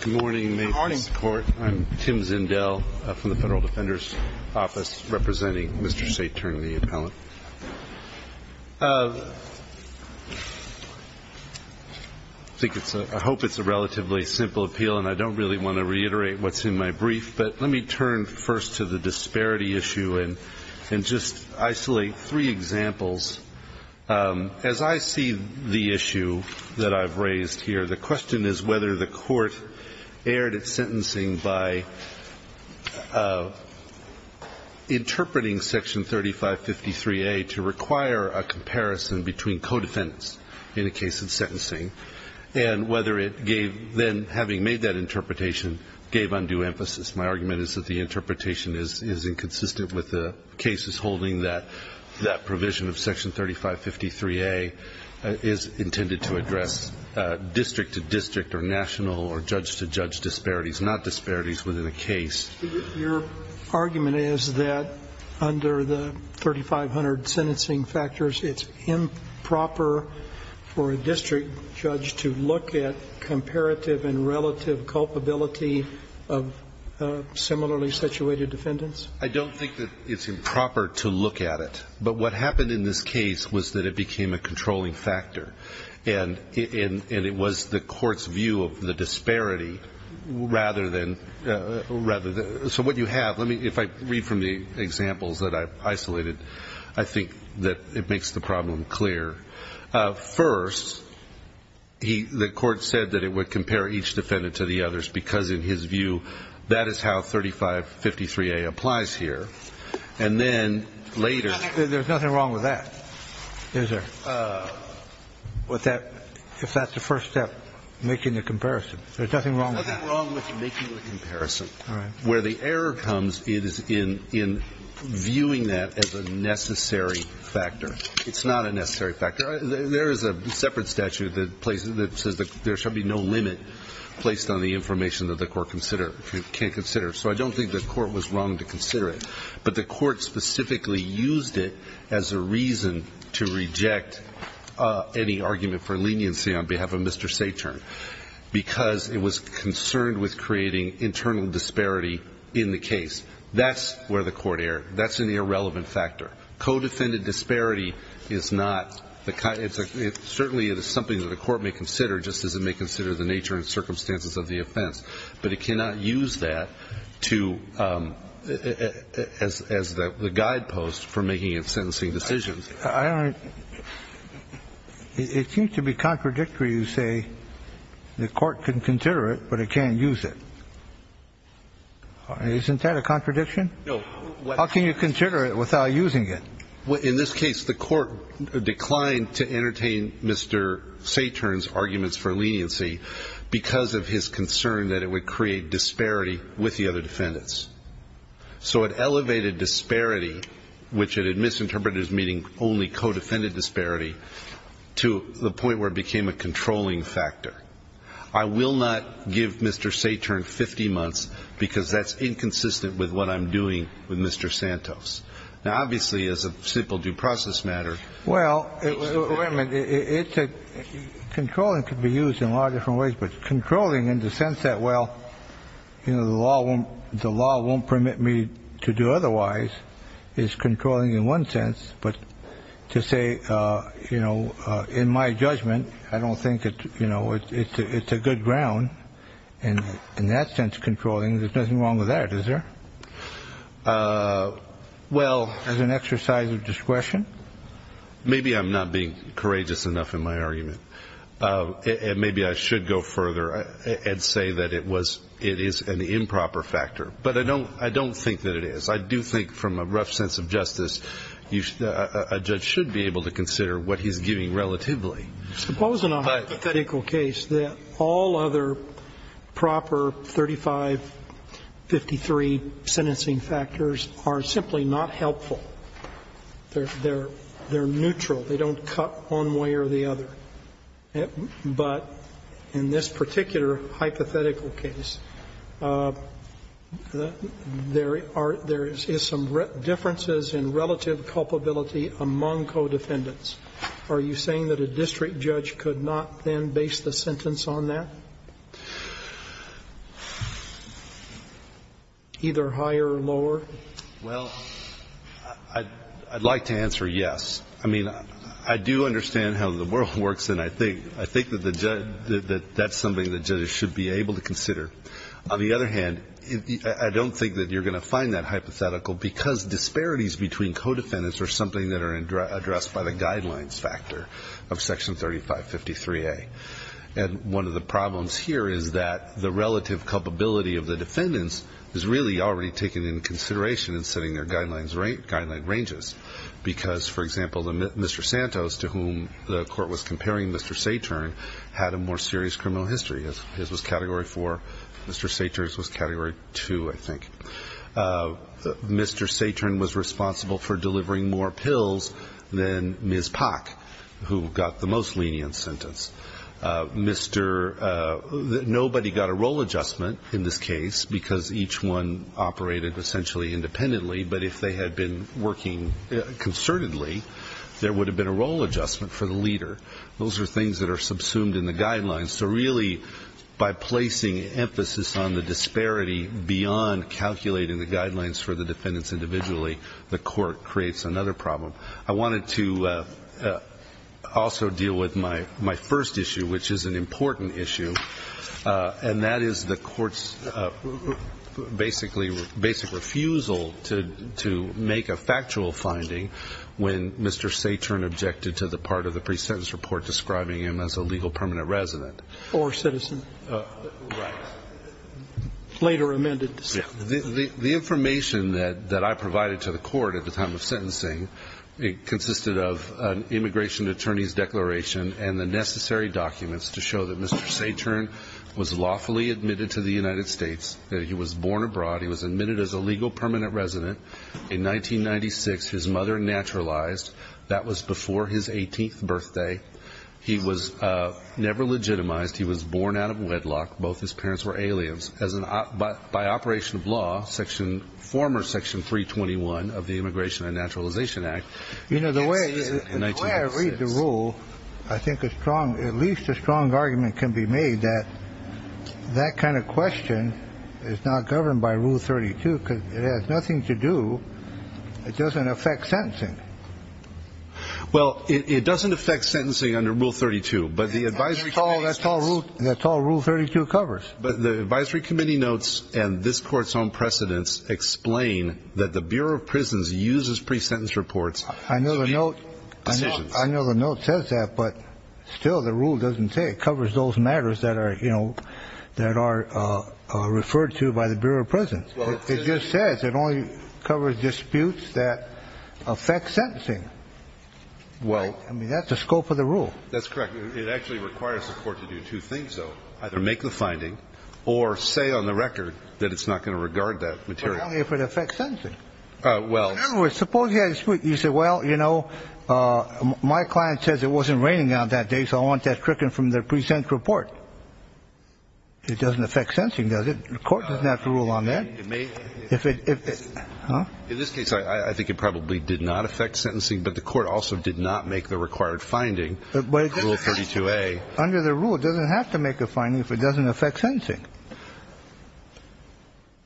Good morning. I'm Tim Zindel from the Federal Defender's Office representing Mr. Saetern, the appellant. I hope it's a relatively simple appeal, and I don't really want to reiterate what's in my brief, but let me turn first to the disparity issue and just isolate three examples. As I see the issue that I've raised here, the question is whether the Court erred at sentencing by interpreting Section 3553A to require a comparison between co-defendants in a case of sentencing and whether it gave then, having made that interpretation, gave undue emphasis. My argument is that the interpretation is inconsistent with the cases holding that that provision of Section 3553A is intended to address district-to-district or national or judge-to-judge disparities, not disparities within a case. Your argument is that under the 3500 sentencing factors, it's improper for a district judge to look at comparative and relative culpability of similarly situated defendants? I don't think that it's improper to look at it. But what happened in this case was that it became a controlling factor, and it was the Court's view of the disparity rather than so what you have, if I read from the examples that I've isolated, I think that it makes the problem clear. First, he – the Court said that it would compare each defendant to the others because, in his view, that is how 3553A applies here. And then later – There's nothing wrong with that, is there? If that's the first step, making the comparison. There's nothing wrong with that. There's nothing wrong with making the comparison. All right. Where the error comes is in viewing that as a necessary factor. It's not a necessary factor. There is a separate statute that places – that says there shall be no limit placed on the information that the Court consider – can consider. So I don't think the Court was wrong to consider it. But the Court specifically used it as a reason to reject any argument for leniency on behalf of Mr. Saturn because it was concerned with creating internal disparity in the case. That's where the Court erred. That's an irrelevant factor. Codefended disparity is not the kind – it's a – certainly, it is something that the Court may consider, just as it may consider the nature and circumstances of the offense. But it cannot use that to – as the guidepost for making sentencing decisions. I don't – it seems to be contradictory to say the Court can consider it, but it can't use it. Isn't that a contradiction? No. How can you consider it without using it? In this case, the Court declined to entertain Mr. Saturn's arguments for leniency because of his concern that it would create disparity with the other defendants. So it elevated disparity, which it had misinterpreted as meaning only codefended disparity, to the point where it became a controlling factor. I will not give Mr. Saturn 50 months because that's inconsistent with what I'm doing with Mr. Santos. Now, obviously, as a simple due process matter – Well, wait a minute. It's a – controlling could be used in a lot of different ways. But controlling in the sense that, well, you know, the law won't permit me to do otherwise is controlling in one sense. But to say, you know, in my judgment, I don't think it's – you know, it's a good ground. And in that sense, controlling, there's nothing wrong with that, is there? Well – As an exercise of discretion? Maybe I'm not being courageous enough in my argument. And maybe I should go further and say that it was – it is an improper factor. But I don't think that it is. I do think, from a rough sense of justice, a judge should be able to consider what he's giving relatively. Suppose in a hypothetical case that all other proper 3553 sentencing factors are simply not helpful. They're neutral. They don't cut one way or the other. But in this particular hypothetical case, there are – there is some differences in relative culpability among co-defendants. Are you saying that a district judge could not then base the sentence on that? Either higher or lower? Well, I'd like to answer yes. I mean, I do understand how the world works. And I think – I think that the judge – that that's something that judges should be able to consider. On the other hand, I don't think that you're going to find that hypothetical because disparities between co-defendants are something that are addressed by the guidelines factor of Section 3553A. And one of the problems here is that the relative culpability of the defendants is really already taken into consideration in setting their guidelines ranges. Because, for example, Mr. Santos, to whom the court was comparing Mr. Saturn, had a more serious criminal history. His was Category 4. Mr. Saturn's was Category 2, I think. Mr. Saturn was responsible for delivering more pills than Ms. Pack, who got the most lenient sentence. Mr. – nobody got a role adjustment in this case because each one operated essentially independently. But if they had been working concertedly, there would have been a role adjustment for the leader. Those are things that are subsumed in the guidelines. So really, by placing emphasis on the disparity beyond calculating the guidelines for the defendants individually, the court creates another problem. I wanted to also deal with my first issue, which is an important issue, and that is the court's basic refusal to make a factual finding when Mr. Saturn objected to the part of the pre-sentence report describing him as a legal permanent resident. Or citizen. Right. Later amended. Yeah. The information that I provided to the court at the time of sentencing consisted of an immigration attorney's declaration and the necessary documents to show that Mr. Saturn was lawfully admitted to the United States, that he was born abroad, he was admitted as a legal permanent resident. In 1996, his mother naturalized. That was before his 18th birthday. He was never legitimized. He was born out of wedlock. Both his parents were aliens. By operation of law, former Section 321 of the Immigration and Naturalization Act. You know, the way I read the rule, I think at least a strong argument can be made that that kind of question is not governed by Rule 32 because it has nothing to do, it doesn't affect sentencing. Well, it doesn't affect sentencing under Rule 32, but the advisory committee notes and this court's own precedents explain that the Bureau of Prisons uses pre-sentence reports I know the note says that, but still the rule doesn't say it covers those matters that are referred to by the Bureau of Prisons. It just says it only covers disputes that affect sentencing. I mean, that's the scope of the rule. That's correct. It actually requires the court to do two things, though. Either make the finding or say on the record that it's not going to regard that material. But only if it affects sentencing. In other words, suppose you had a dispute. You said, well, you know, my client says it wasn't raining on that day, so I want that tricking from the pre-sentence report. It doesn't affect sentencing, does it? The court doesn't have to rule on that. It may. If it, if it. In this case, I think it probably did not affect sentencing, but the court also did not make the required finding. Rule 32a. Under the rule, it doesn't have to make a finding if it doesn't affect sentencing.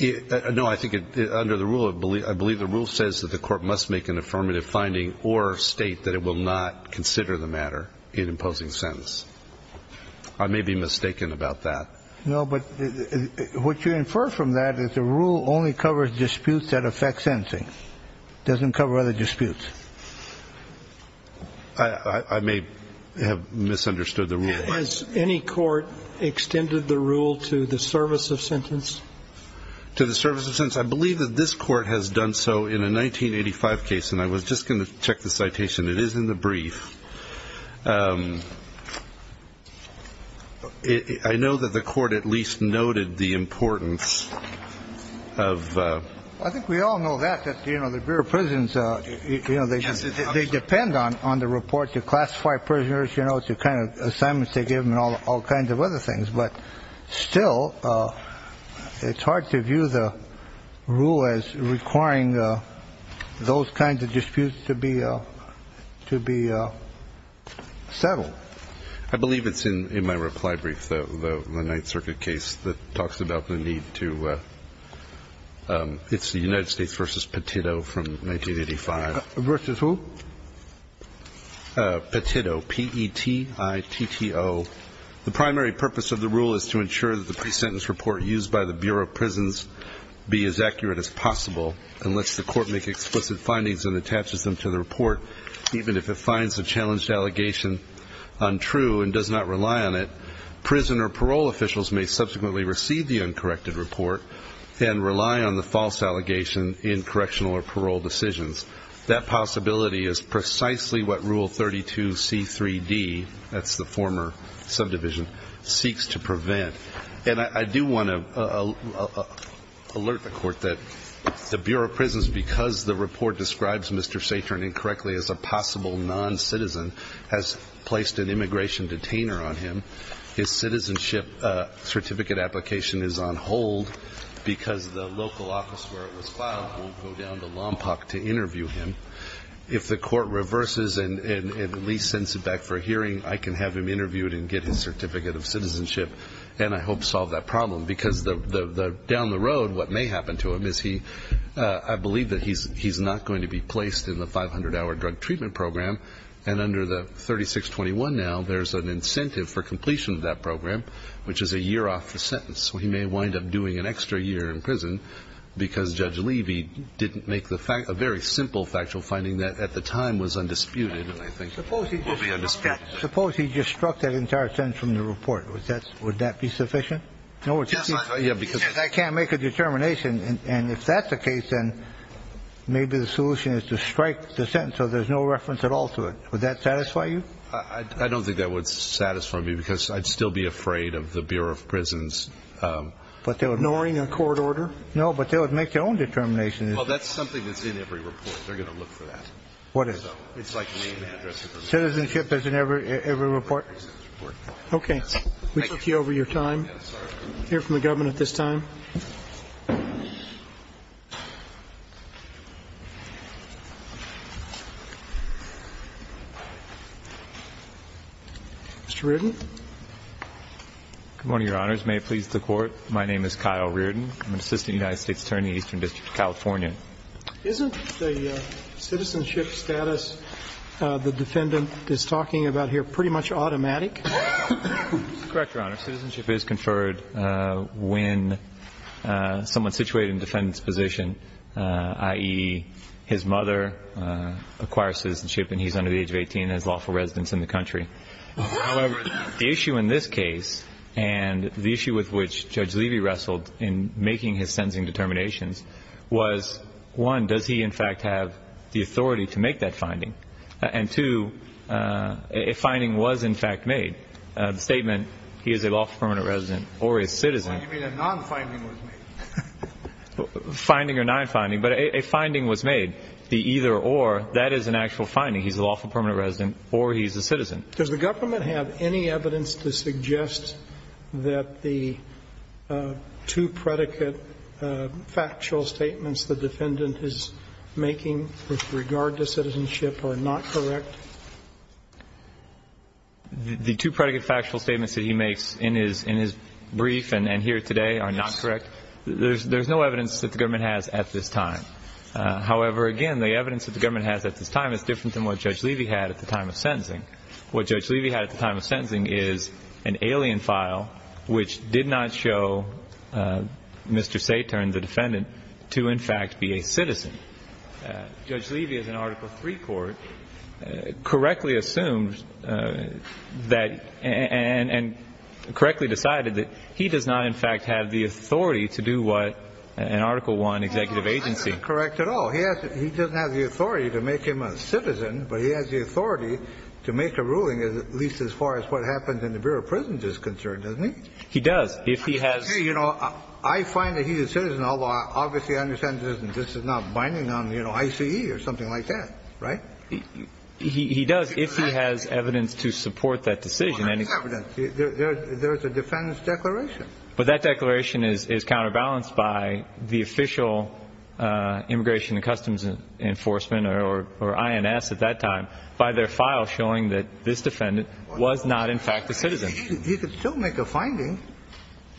No, I think under the rule, I believe the rule says that the court must make an affirmative finding or state that it will not consider the matter in imposing sentence. I may be mistaken about that. No, but what you infer from that is the rule only covers disputes that affect sentencing. It doesn't cover other disputes. I may have misunderstood the rule. Has any court extended the rule to the service of sentence? To the service of sentence. I believe that this court has done so in a 1985 case. And I was just going to check the citation. It is in the brief. I know that the court at least noted the importance of. I think we all know that, that, you know, the Bureau of Prisons, you know, they, they depend on the report to classify prisoners, you know, to kind of assignments they give them and all kinds of other things. But still, it's hard to view the rule as requiring those kinds of disputes to be, to be settled. I believe it's in my reply brief, the Ninth Circuit case that talks about the need to. It's the United States versus Petito from 1985. Versus who? Petito, P-E-T-I-T-T-O. The primary purpose of the rule is to ensure that the pre-sentence report used by the Bureau of Prisons be as accurate as possible and lets the court make explicit findings and attaches them to the report. Even if it finds the challenged allegation untrue and does not rely on it, prison or parole officials may subsequently receive the uncorrected report and rely on the false allegation in correctional or parole decisions. That possibility is precisely what Rule 32C3D, that's the former subdivision, seeks to prevent. And I do want to alert the Court that the Bureau of Prisons, because the report describes Mr. Satron incorrectly as a possible noncitizen, has placed an immigration detainer on him. His citizenship certificate application is on hold because the local office where it was filed won't go down to Lompoc to interview him. If the court reverses and at least sends it back for a hearing, I can have him interviewed and get his certificate of citizenship and I hope solve that problem because down the road what may happen to him is he, I believe that he's not going to be placed in the 500-hour drug treatment program. And under the 3621 now, there's an incentive for completion of that program, which is a year off the sentence. So he may wind up doing an extra year in prison because Judge Levy didn't make a very simple factual finding that at the time was undisputed and I think will be undisputed. Suppose he just struck that entire sentence from the report. Would that be sufficient? No, because he says I can't make a determination, and if that's the case then maybe the solution is to strike the sentence so there's no reference at all to it. Would that satisfy you? I don't think that would satisfy me because I'd still be afraid of the Bureau of Prisons. But they're ignoring a court order? No, but they would make their own determination. Well, that's something that's in every report. They're going to look for that. What is? It's like a name and address. Citizenship is in every report? Okay. Thank you. We took you over your time. Hear from the government at this time. Mr. Reardon? Good morning, Your Honors. May it please the Court. My name is Kyle Reardon. I'm an assistant United States attorney in the Eastern District of California. Isn't the citizenship status the defendant is talking about here pretty much automatic? Correct, Your Honor. Citizenship is conferred when someone is situated in the defendant's position, i.e., his mother acquires citizenship and he's under the age of 18 and has lawful residence in the country. However, the issue in this case and the issue with which Judge Levy wrestled in making his sentencing determinations was, one, does he, in fact, have the authority to make that finding? And, two, a finding was, in fact, made. The statement, he is a lawful permanent resident or a citizen. You mean a non-finding was made? Finding or non-finding, but a finding was made. The either or, that is an actual finding. He's a lawful permanent resident or he's a citizen. Does the government have any evidence to suggest that the two predicate factual statements the defendant is making with regard to citizenship are not correct? The two predicate factual statements that he makes in his brief and here today are not correct. There's no evidence that the government has at this time. However, again, the evidence that the government has at this time is different than what Judge Levy had at the time of sentencing. What Judge Levy had at the time of sentencing is an alien file which did not show Mr. Saturn, the defendant, to, in fact, be a citizen. Judge Levy, as an Article III court, correctly assumed that and correctly decided that he does not, in fact, have the authority to do what an Article I executive agency. That's not correct at all. Well, he doesn't have the authority to make him a citizen, but he has the authority to make a ruling at least as far as what happens in the Bureau of Prisons is concerned, doesn't he? He does. If he has ---- Hey, you know, I find that he is a citizen, although obviously I understand this is not binding on, you know, I.C.E. or something like that, right? He does, if he has evidence to support that decision. Well, I have evidence. There's a defendant's declaration. But that declaration is counterbalanced by the official Immigration and Customs Enforcement, or INS at that time, by their file showing that this defendant was not, in fact, a citizen. He could still make a finding.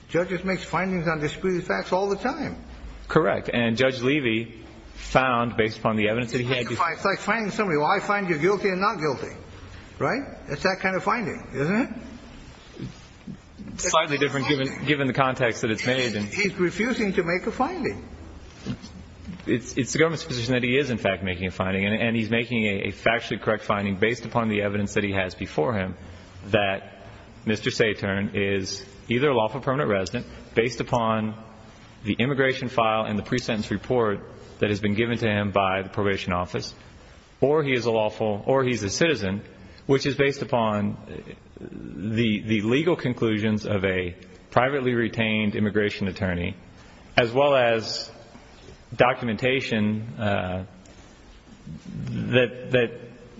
Judges make findings on disputed facts all the time. Correct. And Judge Levy found, based upon the evidence that he had ---- It's like finding somebody. Well, I find you guilty and not guilty, right? It's that kind of finding, isn't it? Slightly different, given the context that it's made. He's refusing to make a finding. It's the government's position that he is, in fact, making a finding. And he's making a factually correct finding based upon the evidence that he has before him, that Mr. Satern is either a lawful permanent resident based upon the immigration file and the pre-sentence report that has been given to him by the probation office, or he is a lawful or he's a citizen, which is based upon the evidence and the legal conclusions of a privately retained immigration attorney, as well as documentation that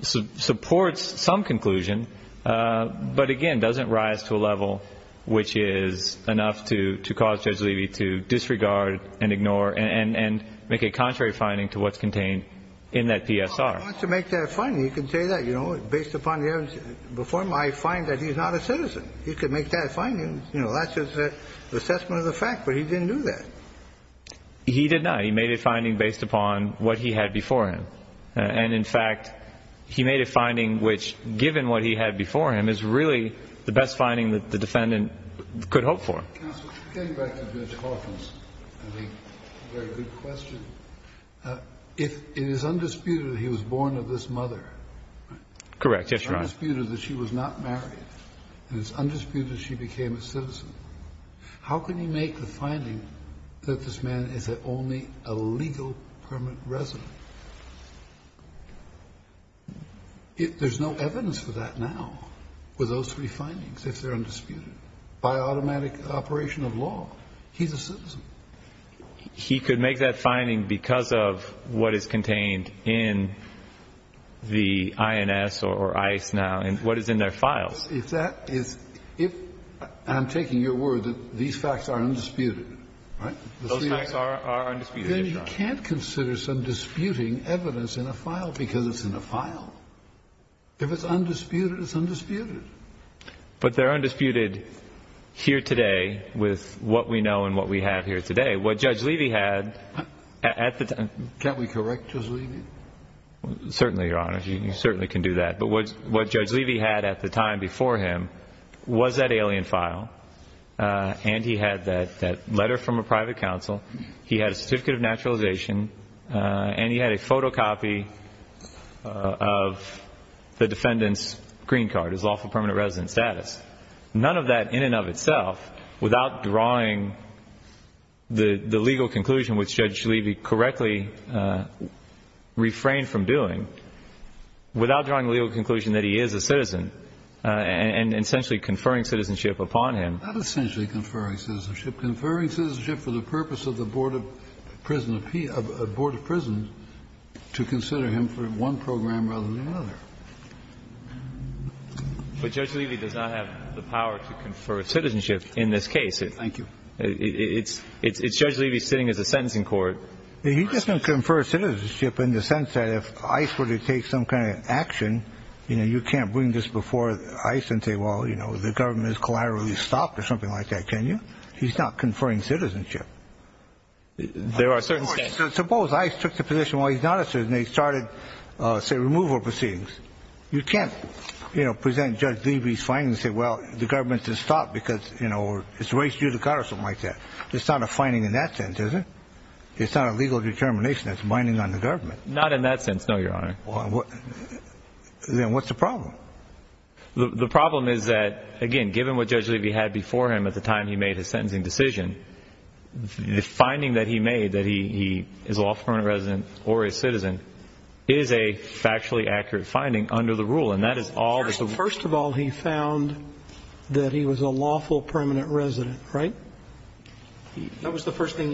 supports some conclusion, but, again, doesn't rise to a level which is enough to cause Judge Levy to disregard and ignore and make a contrary finding to what's contained in that PSR. Well, he wants to make that finding. He can say that, you know, based upon the evidence before him. I find that he's not a citizen. He could make that finding. You know, that's just an assessment of the fact, but he didn't do that. He did not. He made a finding based upon what he had before him. And, in fact, he made a finding which, given what he had before him, is really the best finding that the defendant could hope for. Counsel, getting back to Judge Hoffman's very good question, it is undisputed that he was born of this mother. Correct. Yes, Your Honor. And it's undisputed that she was not married. And it's undisputed she became a citizen. How can he make the finding that this man is only a legal permanent resident? There's no evidence for that now with those three findings, if they're undisputed. By automatic operation of law, he's a citizen. He could make that finding because of what is contained in the INS or ICE now and what is in their files. If that is – if – and I'm taking your word that these facts are undisputed, right? Those facts are undisputed, yes, Your Honor. Then you can't consider some disputing evidence in a file because it's in a file. If it's undisputed, it's undisputed. But they're undisputed here today with what we know and what we have here today. What Judge Levy had at the time – Can't we correct Judge Levy? Certainly, Your Honor. You certainly can do that. But what Judge Levy had at the time before him was that alien file and he had that letter from a private counsel. He had a certificate of naturalization and he had a photocopy of the defendant's screen card, his lawful permanent resident status. None of that in and of itself, without drawing the legal conclusion which Judge Levy correctly refrained from doing, without drawing a legal conclusion that he is a citizen and essentially conferring citizenship upon him. Not essentially conferring citizenship. Conferring citizenship for the purpose of the Board of Prisoners to consider him for one program rather than another. But Judge Levy does not have the power to confer citizenship in this case. Thank you. It's Judge Levy sitting as a sentencing court. He doesn't confer citizenship in the sense that if ICE were to take some kind of action, you know, you can't bring this before ICE and say, well, you know, the government has collaterally stopped or something like that, can you? He's not conferring citizenship. There are certain states. Suppose ICE took the position while he's not a citizen and they started, say, removal proceedings. You can't, you know, present Judge Levy's findings and say, well, the government has stopped because, you know, it's race judicata or something like that. It's not a finding in that sense, is it? It's not a legal determination that's binding on the government. Not in that sense, no, Your Honor. Then what's the problem? The problem is that, again, given what Judge Levy had before him at the time he made that he is a lawful permanent resident or a citizen, it is a factually accurate finding under the rule. First of all, he found that he was a lawful permanent resident, right? That was the first thing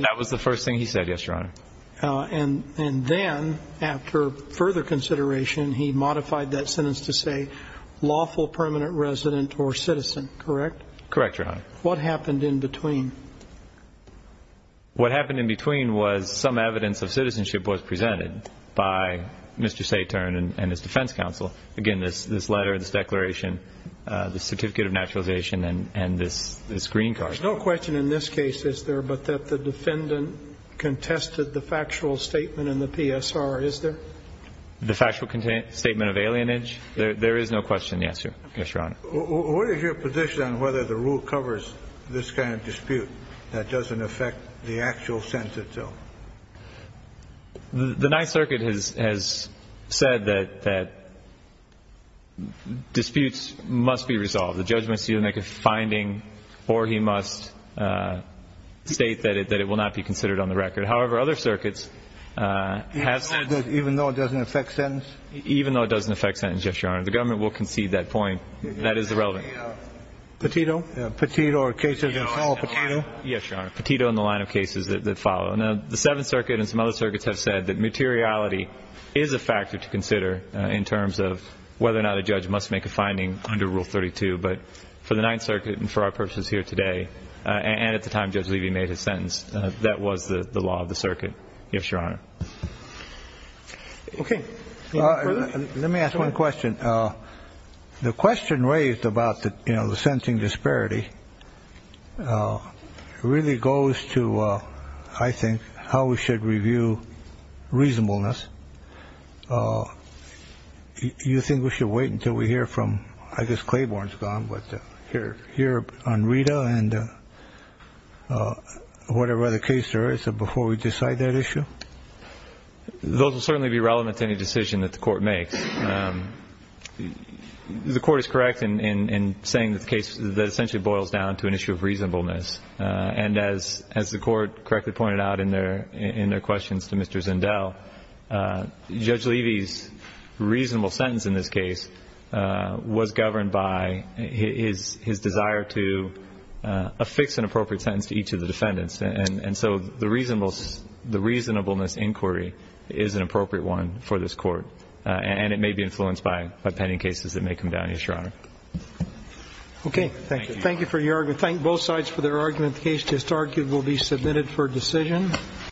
he said, yes, Your Honor. And then after further consideration, he modified that sentence to say lawful permanent resident or citizen, correct? Correct, Your Honor. What happened in between? What happened in between was some evidence of citizenship was presented by Mr. Saturn and his defense counsel. Again, this letter, this declaration, the certificate of naturalization and this green card. There's no question in this case, is there, but that the defendant contested the factual statement in the PSR, is there? The factual statement of alienage? There is no question in the answer, yes, Your Honor. What is your position on whether the rule covers this kind of dispute that doesn't affect the actual sentence itself? The Ninth Circuit has said that disputes must be resolved. The judge must either make a finding or he must state that it will not be considered on the record. However, other circuits have said that even though it doesn't affect sentence? Even though it doesn't affect sentence, yes, Your Honor. The government will concede that point. That is irrelevant. Petito? Petito or cases that follow Petito? Yes, Your Honor. Petito in the line of cases that follow. Now, the Seventh Circuit and some other circuits have said that materiality is a factor to consider in terms of whether or not a judge must make a finding under Rule 32. But for the Ninth Circuit and for our purposes here today and at the time Judge Levy made his sentence, that was the law of the circuit. Yes, Your Honor. Okay. Let me ask one question. The question raised about the sentencing disparity really goes to, I think, how we should review reasonableness. Do you think we should wait until we hear from, I guess Claiborne's gone, but hear on Rita and whatever other case there is before we decide that issue? Those will certainly be relevant to any decision that the Court makes. The Court is correct in saying that the case essentially boils down to an issue of reasonableness. And as the Court correctly pointed out in their questions to Mr. Zendel, Judge Levy's reasonable sentence in this case was governed by his desire to affix an appropriate sentence to each of the defendants. And so the reasonableness inquiry is an appropriate one for this Court. And it may be influenced by pending cases that may come down, Your Honor. Okay. Thank you. Thank you for your argument. Thank both sides for their argument. The case just argued will be submitted for decision.